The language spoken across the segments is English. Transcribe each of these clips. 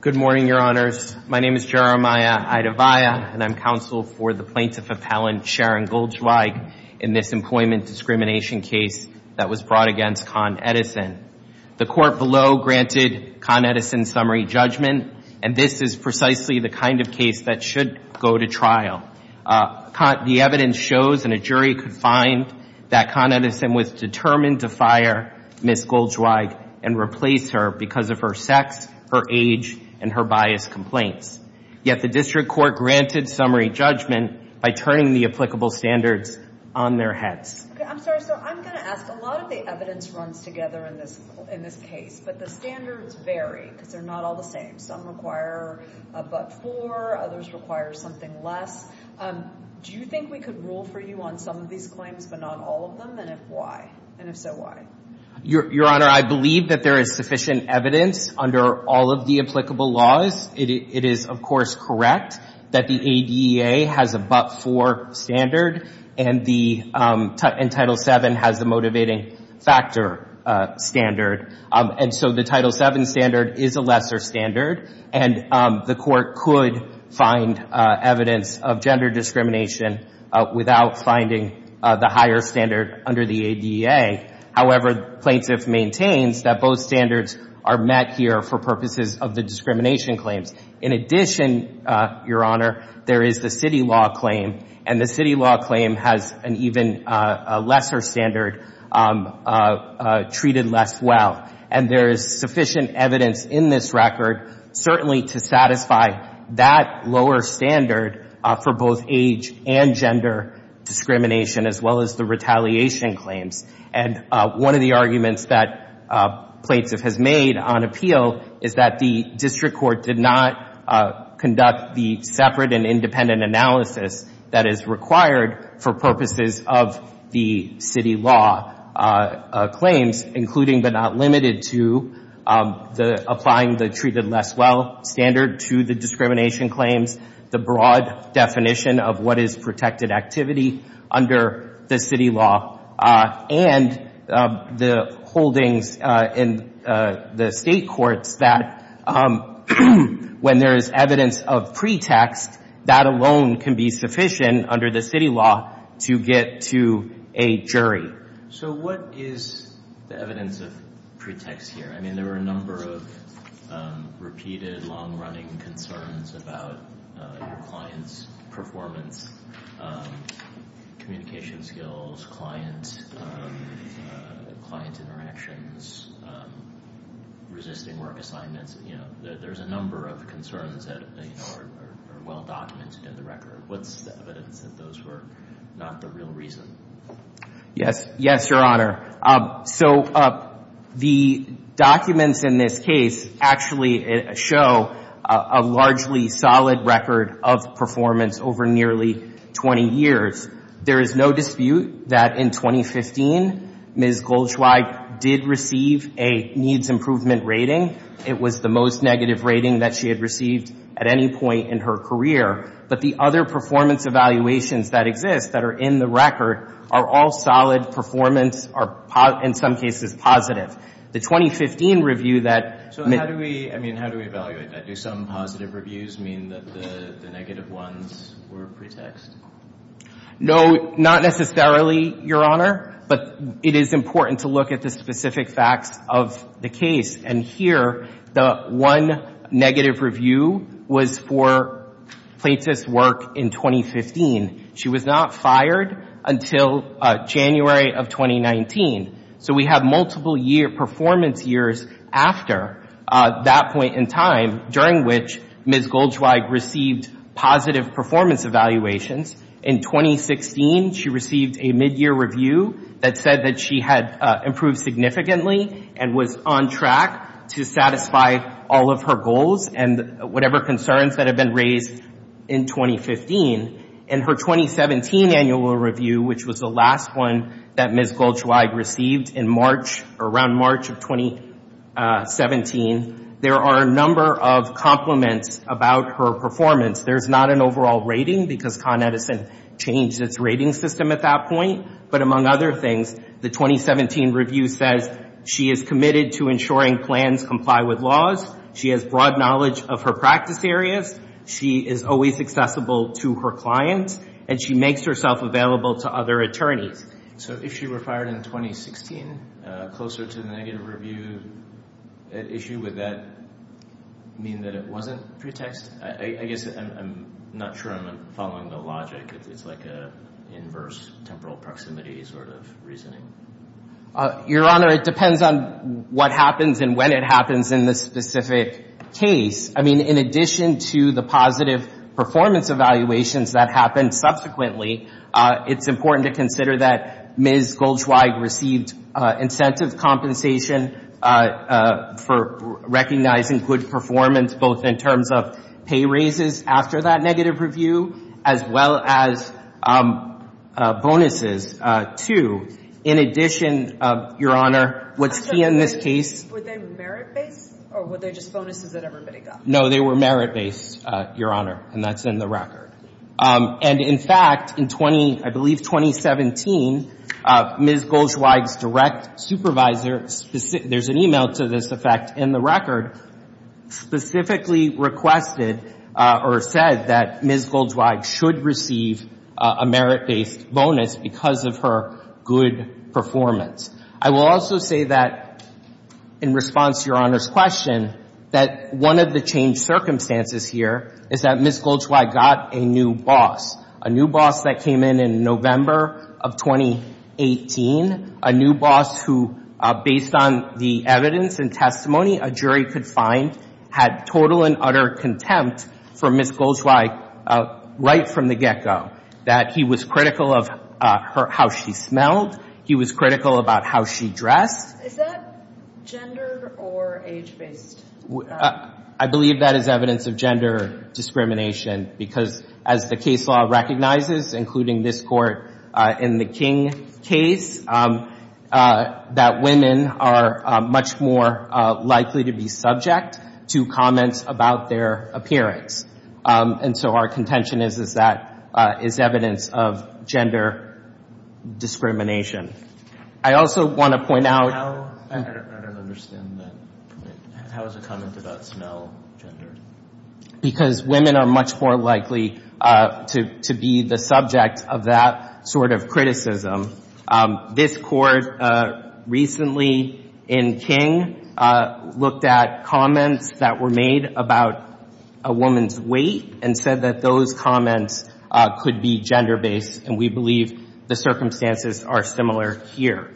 Good morning, Your Honors. My name is Jeremiah Idavaya, and I'm counsel for the Plaintiff Appellant Sharon Goldzweig in this employment discrimination case that was brought against Con Edison. The court below granted Con Edison summary judgment, and this is precisely the kind of case that should go to trial. The evidence shows, and a jury could find, that Con Edison was determined to fire Ms. Goldzweig and replace her because of her sex, her age, and her bias complaints. Yet the district court granted summary judgment by turning the applicable standards on their heads. Okay, I'm sorry, so I'm going to ask, a lot of the evidence runs together in this case, but the standards vary because they're not all the same. Some require a but-for, others require something less. Do you think we could rule for you on some of these claims, but not all of them? And if so, why? Your Honor, I believe that there is sufficient evidence under all of the applicable laws. It is, of course, correct that the ADA has a but-for standard, and Title VII has the motivating factor standard. And so the Title VII standard is a lesser standard, and the court could find evidence of gender discrimination without finding the higher standard under the ADA. However, plaintiff maintains that both standards are met here for purposes of the discrimination claims. In addition, Your Honor, there is the city law claim, and the city law claim has an even lesser standard, treated less well. And there is sufficient evidence in this record, certainly to satisfy that lower standard for both age and gender discrimination, as well as the retaliation claims. And one of the arguments that plaintiff has made on appeal is that the district court did not conduct the separate and independent analysis that is required for purposes of the city law claims, including but not limited to the applying the treated less well standard to the discrimination claims, the broad definition of what is protected activity under the city law, and the holdings in the state courts that when there is evidence of pretext, that alone can be sufficient under the city law to get to a jury. So what is the evidence of pretext here? I mean, there are a number of repeated, long-running concerns about your client's performance, communication skills, client interactions, resisting work assignments. There's a number of concerns that are well documented in the record. What's the evidence that those were not the real reason? Yes. Yes, Your Honor. So the documents in this case actually show a largely solid record of performance over nearly 20 years. There is no dispute that in 2015, Ms. Goldschweig did receive a needs improvement rating. It was the most negative rating that she had received at any point in her career. But the other performance evaluations that exist that are in the record are all solid performance, are in some cases positive. The 2015 review that... So how do we, I mean, how do we evaluate that? Do some positive reviews mean that the negative ones were pretext? No, not necessarily, Your Honor. But it is important to look at the specific facts of the case. And here, the one negative review was for plaintiff's work in 2015. She was not fired until January of 2019. So we have multiple performance years after that point in time during which Ms. Goldschweig received positive performance evaluations. In 2016, she received a midyear review that said that she had improved significantly and was on track to satisfy all of her goals and whatever concerns that have been raised in 2015. In her 2017 annual review, which was the last one that Ms. Goldschweig received in March, around March of 2017, there are a number of compliments about her performance. There's not an overall rating because Con Edison changed its rating system at that point. But among other things, the 2017 review says she is committed to ensuring plans comply with laws. She has broad knowledge of her practice areas. She is always accessible to her clients. And she makes herself available to other attorneys. So if she were fired in 2016, closer to the negative review issue, would that mean that it wasn't pretext? I guess I'm not sure I'm following the logic. It's like an inverse temporal proximity sort of reasoning. Your Honor, it depends on what happens and when it happens in this specific case. I mean, in addition to the positive performance evaluations that happened subsequently, it's important to consider that Ms. Goldschweig received incentive compensation for recognizing good performance, both in terms of pay raises after that negative review, as well as bonuses, too. In addition, Your Honor, what's seen in this case... Were they merit-based? Or were they just bonuses that everybody got? No, they were merit-based, Your Honor. And that's in the record. And in fact, in 20, I believe 2017, Ms. Goldschweig's direct supervisor, there's an email to this effect in the record, specifically requested or said that Ms. Goldschweig should receive a merit-based bonus because of her good performance. I will also say that in response to Your Honor's question, that one of the changed circumstances here is that Ms. Goldschweig got a new boss, a new boss that in November of 2018, a new boss who, based on the evidence and testimony a jury could find, had total and utter contempt for Ms. Goldschweig right from the get-go, that he was critical of how she smelled, he was critical about how she dressed. Is that gendered or age-based? I believe that is evidence of gender discrimination, because as the case law recognizes, including this court in the King case, that women are much more likely to be subject to comments about their appearance. And so our contention is that is evidence of gender discrimination. I also want to point out— How? I don't understand that. How is a comment about smell gendered? Because women are much more likely to be the subject of that sort of criticism. This court recently in King looked at comments that were made about a woman's weight and said that those comments could be gender-based, and we believe the circumstances are similar here.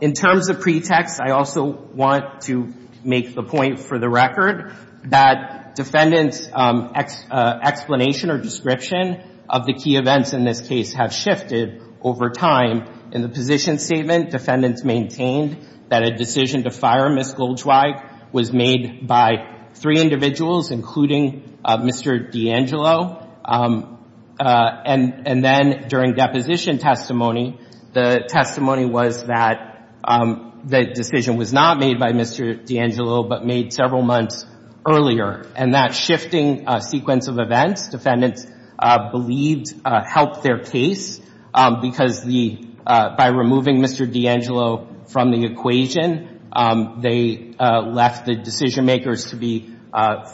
In terms of pretext, I also want to make the point for the record that defendants' explanation or description of the key events in this case have shifted over time. In the position statement, defendants maintained that a decision to fire Ms. Goldschweig was made by three individuals, including Mr. D'Angelo. And then during deposition testimony, the testimony was that the decision was not made by Mr. D'Angelo but made several months earlier. And that shifting sequence of events defendants believed helped their case, because by removing Mr. D'Angelo from the equation, they left the decision makers to be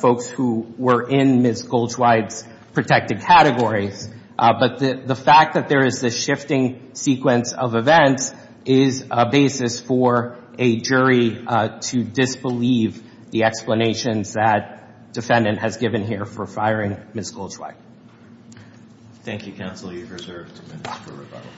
folks who were in Ms. Goldschweig's protected categories. But the fact that there is this shifting sequence of events is a basis for a jury to disbelieve the explanations that defendant has given here for firing Ms. Goldschweig. Thank you, counsel. You're reserved two minutes for rebuttal.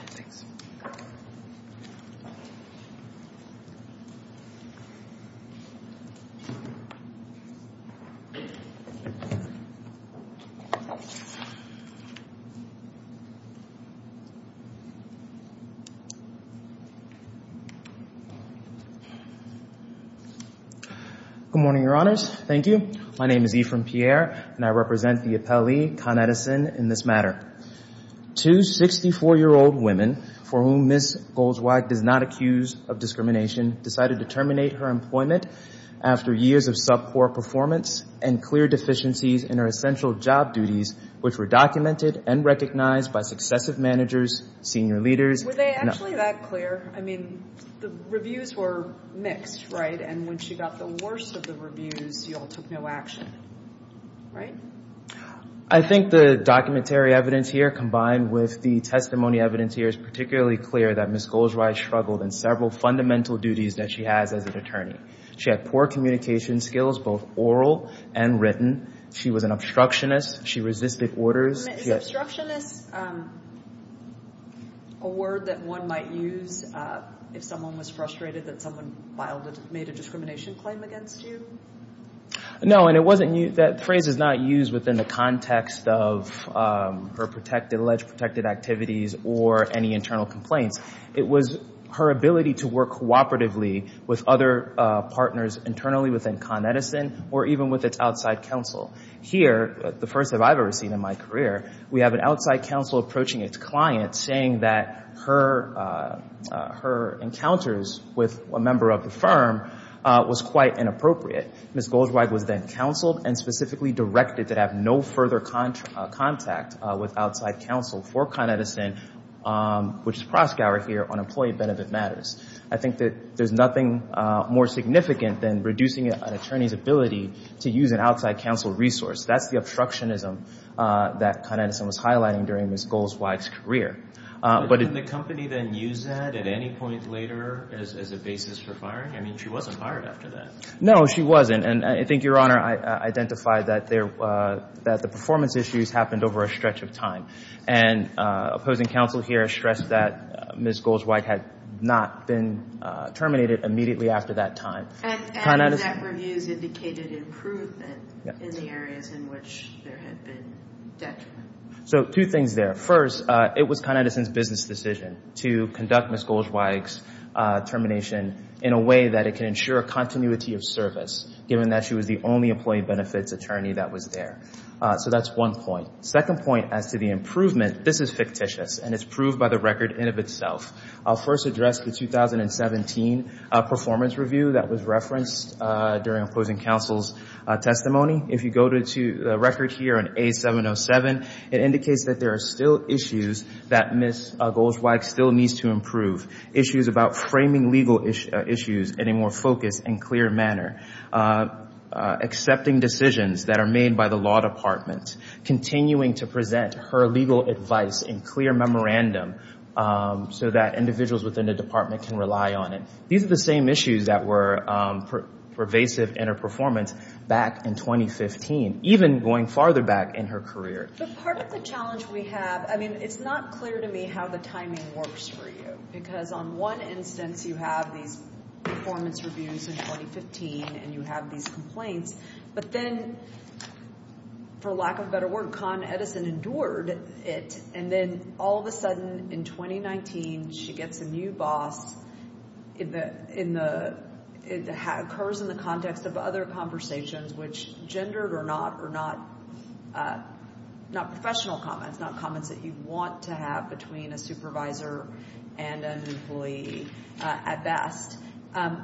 Good morning, Your Honors. Thank you. My name is Ephraim Pierre, and I represent the appellee, in this matter. Two 64-year-old women, for whom Ms. Goldschweig does not accuse of discrimination, decided to terminate her employment after years of sub-court performance and clear deficiencies in her essential job duties, which were documented and recognized by successive managers, senior leaders. Were they actually that clear? I mean, the reviews were mixed, right? And when she got the worst of the reviews, you all took no action, right? I think the documentary evidence here, combined with the testimony evidence here, is particularly clear that Ms. Goldschweig struggled in several fundamental duties that she has as an attorney. She had poor communication skills, both oral and written. She was an obstructionist. She resisted orders. Is obstructionist a word that one might use if someone was frustrated that someone made a discrimination claim against you? No, and that phrase is not used within the context of her alleged protected activities or any internal complaints. It was her ability to work cooperatively with other partners internally within Con Edison or even with its outside counsel. Here, the first that I've ever seen in my career, we have an outside counsel approaching its client saying that her encounters with a member of the firm was quite inappropriate. Ms. Goldschweig was then counseled and specifically directed to have no further contact with outside counsel for Con Edison, which is Proskauer here on employee benefit matters. I think that there's nothing more significant than reducing an attorney's ability to use an outside counsel resource. That's the obstructionism that Con Edison was highlighting during Ms. Goldschweig's career. But didn't the company then use that at any point later as a basis for firing? I mean, she wasn't fired after that. No, she wasn't, and I think, Your Honor, I identified that the performance issues happened over a stretch of time, and opposing counsel here stressed that Ms. Goldschweig had not been terminated immediately after that time. And exact reviews indicated improvement in the areas in which there had been detriment. So two things there. First, it was Con Edison's business decision to conduct Ms. Goldschweig's termination in a way that it can ensure a continuity of service, given that she was the only employee benefits attorney that was there. So that's one point. Second point as to the improvement, this is fictitious, and it's proved by the record in of itself. I'll first address the 2017 performance review that was referenced during opposing counsel's testimony. If you go to the record here in A707, it indicates that there are still issues that Ms. Goldschweig still needs to improve. Issues about framing legal issues in a more focused and clear manner. Accepting decisions that are made by the law department. Continuing to present her legal advice in clear memorandum so that individuals within the department can rely on it. These are the same issues that were pervasive in her performance back in 2015, even going farther back in her career. But part of the challenge we have, I mean, it's not clear to me how the timing works for you. Because on one instance, you have these performance reviews in 2015, and you have these complaints. But then, for lack of a better word, Con Edison endured it, and then all of a sudden in 2019, she gets a new boss. It occurs in the context of other conversations, which gendered or not, not professional comments, not comments that you want to have between a supervisor and an employee at best.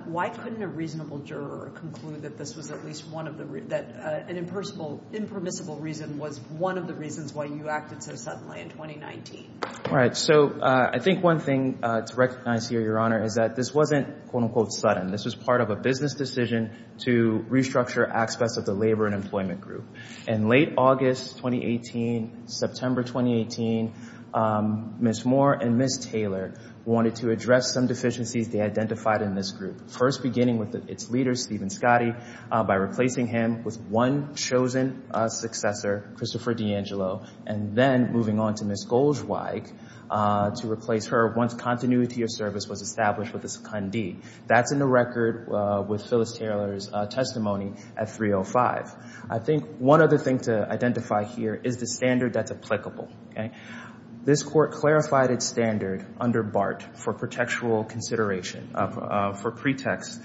Why couldn't a reasonable juror conclude that an impermissible reason was one of the reasons why you acted so suddenly in 2019? Right. So, I think one thing to recognize here, Your Honor, is that this wasn't, quote unquote, sudden. This was part of a business decision to restructure aspects of labor and employment group. In late August 2018, September 2018, Ms. Moore and Ms. Taylor wanted to address some deficiencies they identified in this group, first beginning with its leader, Stephen Scotti, by replacing him with one chosen successor, Christopher D'Angelo, and then moving on to Ms. Goldschweig to replace her once continuity of service was established with a secondee. That's in the record with Phyllis Taylor's testimony at 3.05. I think one other thing to identify here is the standard that's applicable. This court clarified its standard under BART for pretextual consideration, for pretext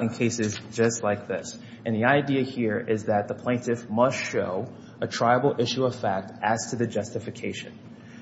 in cases just like this. And the idea here is that the plaintiff must show a tribal issue of fact as to the justification.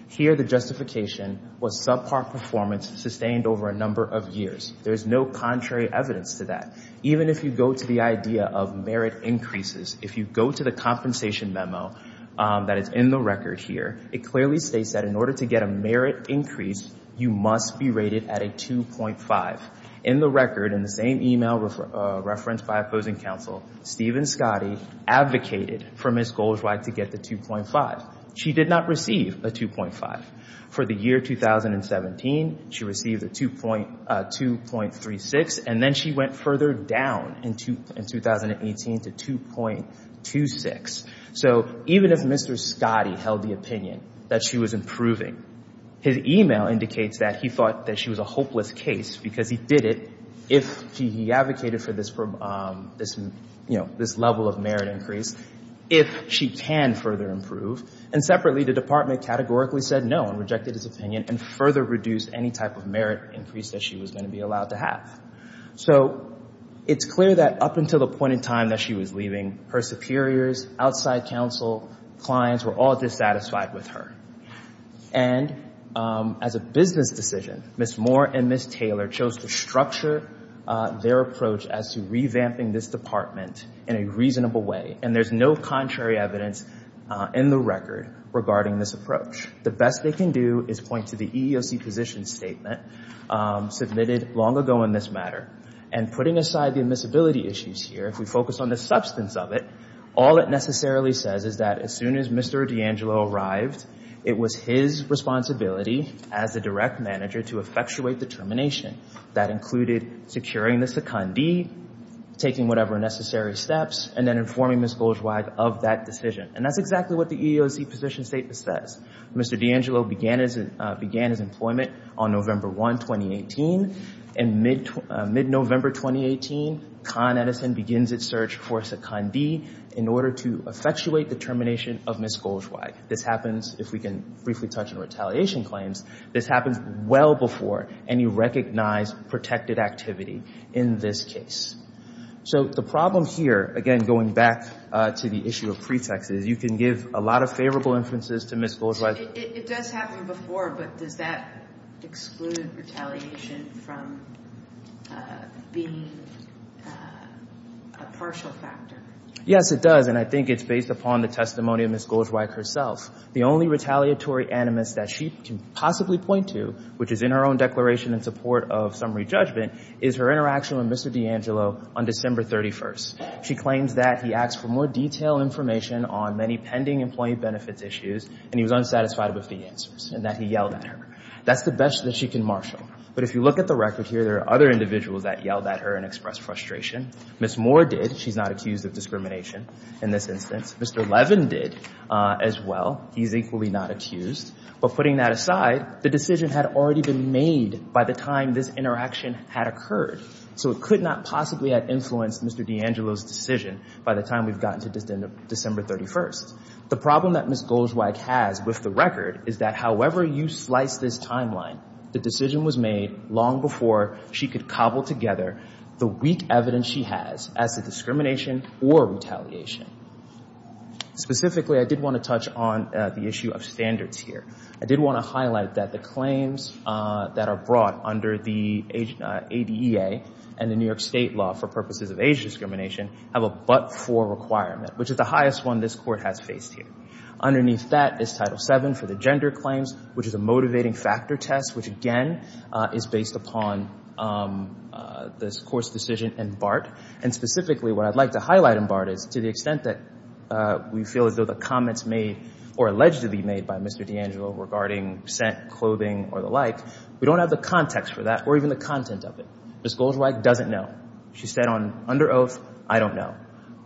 Here, the justification was subpar performance sustained over a number of years. There's no contrary evidence to that. Even if you go to the idea of merit increases, if you go to the compensation memo that is in the record here, it clearly states that in order to get a merit increase, you must be rated at a 2.5. In the record, in the same email referenced by opposing counsel, Stephen Scotti advocated for Ms. Goldschweig to get the 2.5. She did not receive a 2.5. For the year 2017, she received a 2.36, and then she went further down in 2018 to 2.26. So even if Mr. Scotti held the opinion that she was improving, his email indicates that he thought that she was a hopeless case because he did it if he advocated for this, you know, this level of if she can further improve. And separately, the department categorically said no and rejected his opinion and further reduced any type of merit increase that she was going to be allowed to have. So it's clear that up until the point in time that she was leaving, her superiors, outside counsel, clients were all dissatisfied with her. And as a business decision, Ms. Moore and Ms. Taylor chose to structure their approach as to revamping this department in a reasonable way. And there's no contrary evidence in the record regarding this approach. The best they can do is point to the EEOC position statement submitted long ago in this matter. And putting aside the admissibility issues here, if we focus on the substance of it, all it necessarily says is that as soon as Mr. D'Angelo arrived, it was his responsibility as a direct manager to effectuate the termination. That included securing the secondee, taking whatever necessary steps, and then informing Ms. Goldschweig of that decision. And that's exactly what the EEOC position statement says. Mr. D'Angelo began his employment on November 1, 2018. And mid-November 2018, Con Edison begins its search for a secondee in order to effectuate the termination of Ms. Goldschweig. This happens, if we can briefly touch on retaliation claims, this happens well before any recognized protected activity in this case. So the problem here, again, going back to the issue of pretexts, is you can give a lot of favorable inferences to Ms. Goldschweig. It does happen before, but does that exclude retaliation from being a partial factor? Yes, it does. And I think it's based upon the testimony of Ms. Goldschweig herself. The only retaliatory animus that she can possibly point to, which is in her own declaration in support of summary judgment, is her interaction with Mr. D'Angelo on December 31. She claims that he asked for more detailed information on many pending employee benefits issues, and he was unsatisfied with the answers, and that he yelled at her. That's the best that she can marshal. But if you look at the record here, there are other individuals that yelled at her and expressed frustration. Ms. Moore did. She's not accused of discrimination in this instance. Mr. Levin did as well. He's equally not accused. But putting that aside, the decision had already been made by the time this interaction had occurred. So it could not possibly have influenced Mr. D'Angelo's decision by the time we've gotten to December 31. The problem that Ms. Goldschweig has with the record is that however you slice this timeline, the decision was made long before she could cobble together the weak evidence she has as to discrimination or retaliation. Specifically, I did want to touch on the issue of standards here. I did want to highlight that claims that are brought under the ADEA and the New York State law for purposes of age discrimination have a but-for requirement, which is the highest one this Court has faced here. Underneath that is Title VII for the gender claims, which is a motivating factor test, which again is based upon this Court's decision in BART. And specifically, what I'd like to highlight in BART is to the extent that we feel as though the comments made or allegedly made by Mr. D'Angelo regarding scent, clothing, or the like, we don't have the context for that or even the content of it. Ms. Goldschweig doesn't know. She said under oath, I don't know.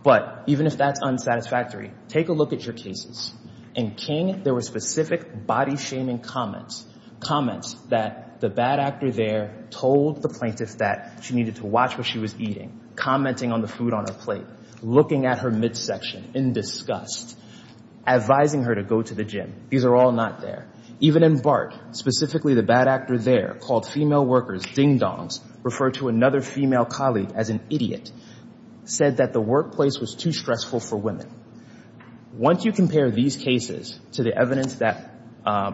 But even if that's unsatisfactory, take a look at your cases. In King, there were specific body-shaming comments, comments that the bad actor there told the plaintiff that she needed to watch what she was eating, commenting on the food on her plate, looking at her midsection in disgust, advising her to go to the gym. These are all not there. Even in BART, specifically, the bad actor there called female workers ding-dongs, referred to another female colleague as an idiot, said that the workplace was too stressful for women. Once you compare these cases to the evidence that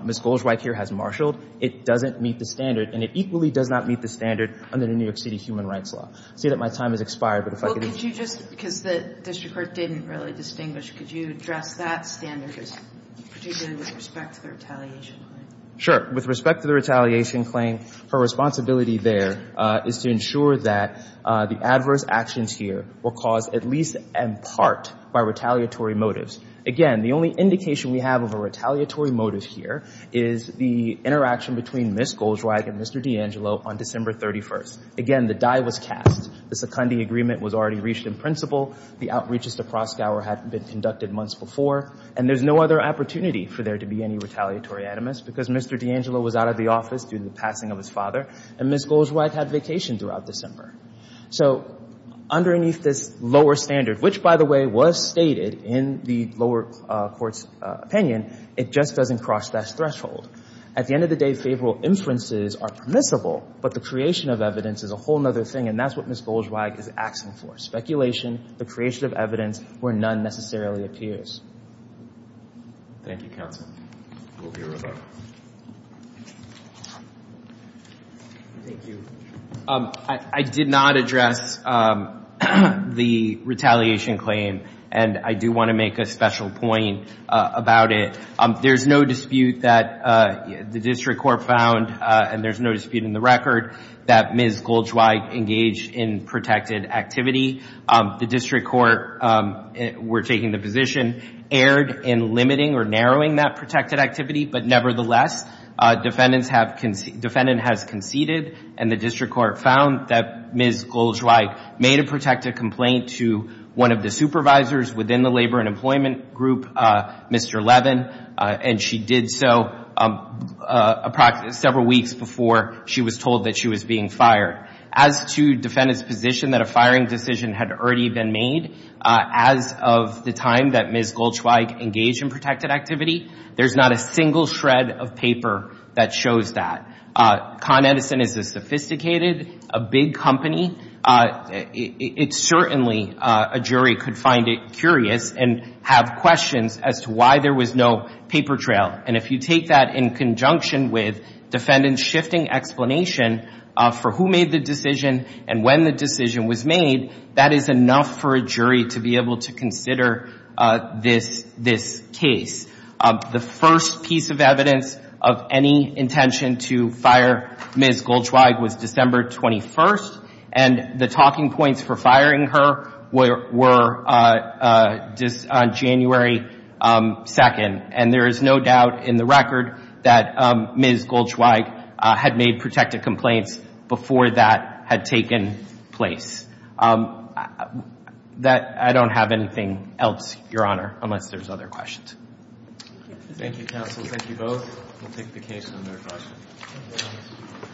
Ms. Goldschweig here has marshaled, it doesn't meet the standard, and it equally does not meet the standard under the New York City human rights law. I say that my time has expired, but if I could just go back to my standard, particularly with respect to the retaliation claim. Sure. With respect to the retaliation claim, her responsibility there is to ensure that the adverse actions here were caused at least in part by retaliatory motives. Again, the only indication we have of a retaliatory motive here is the interaction between Ms. Goldschweig and Mr. D'Angelo on December 31st. Again, the die was cast. The seconding agreement was already reached in principle. The outreaches to Krosgauer had been conducted months before, and there's no other opportunity for there to be any retaliatory animus because Mr. D'Angelo was out of the office due to the passing of his father, and Ms. Goldschweig had vacation throughout December. So underneath this lower standard, which, by the way, was stated in the lower court's opinion, it just doesn't cross that threshold. At the end of the day, favorable inferences are permissible, but the creation of evidence is a whole other thing, and that's what Ms. Goldschweig is asking for. Speculation, the creation of evidence where none necessarily appears. Thank you, counsel. We'll be right back. Thank you. I did not address the retaliation claim, and I do want to make a special point about it. There's no dispute that the district court found, and there's no dispute in the record, that Ms. Goldschweig engaged in protected activity. The district court were taking the position, erred in limiting or narrowing that protected activity, but nevertheless, defendant has conceded, and the district court found that Ms. Goldschweig made a protected complaint to one of the supervisors within the labor and employment group, Mr. Levin, and she did so several weeks before she was told that she was being fired. As to defendant's position that a firing decision had already been made, as of the time that Ms. Goldschweig engaged in protected activity, there's not a single shred of paper that shows that. Con Edison is a sophisticated, a big company. It's certainly, a jury could find it curious and have questions as to why there was no paper trail, and if you take that in conjunction with defendant's shifting explanation for who made the decision and when the decision was made, that is enough for a jury to be able to consider this case. The first piece of evidence of any intention to fire Ms. Goldschweig was December 21st, and the talking points for firing her were on January 2nd, and there is no doubt in the record that Ms. Goldschweig had made protected complaints before that had taken place. I don't have anything else, Your Honor, unless there's other questions. Thank you, counsel. Thank you both. We'll take the case under caution.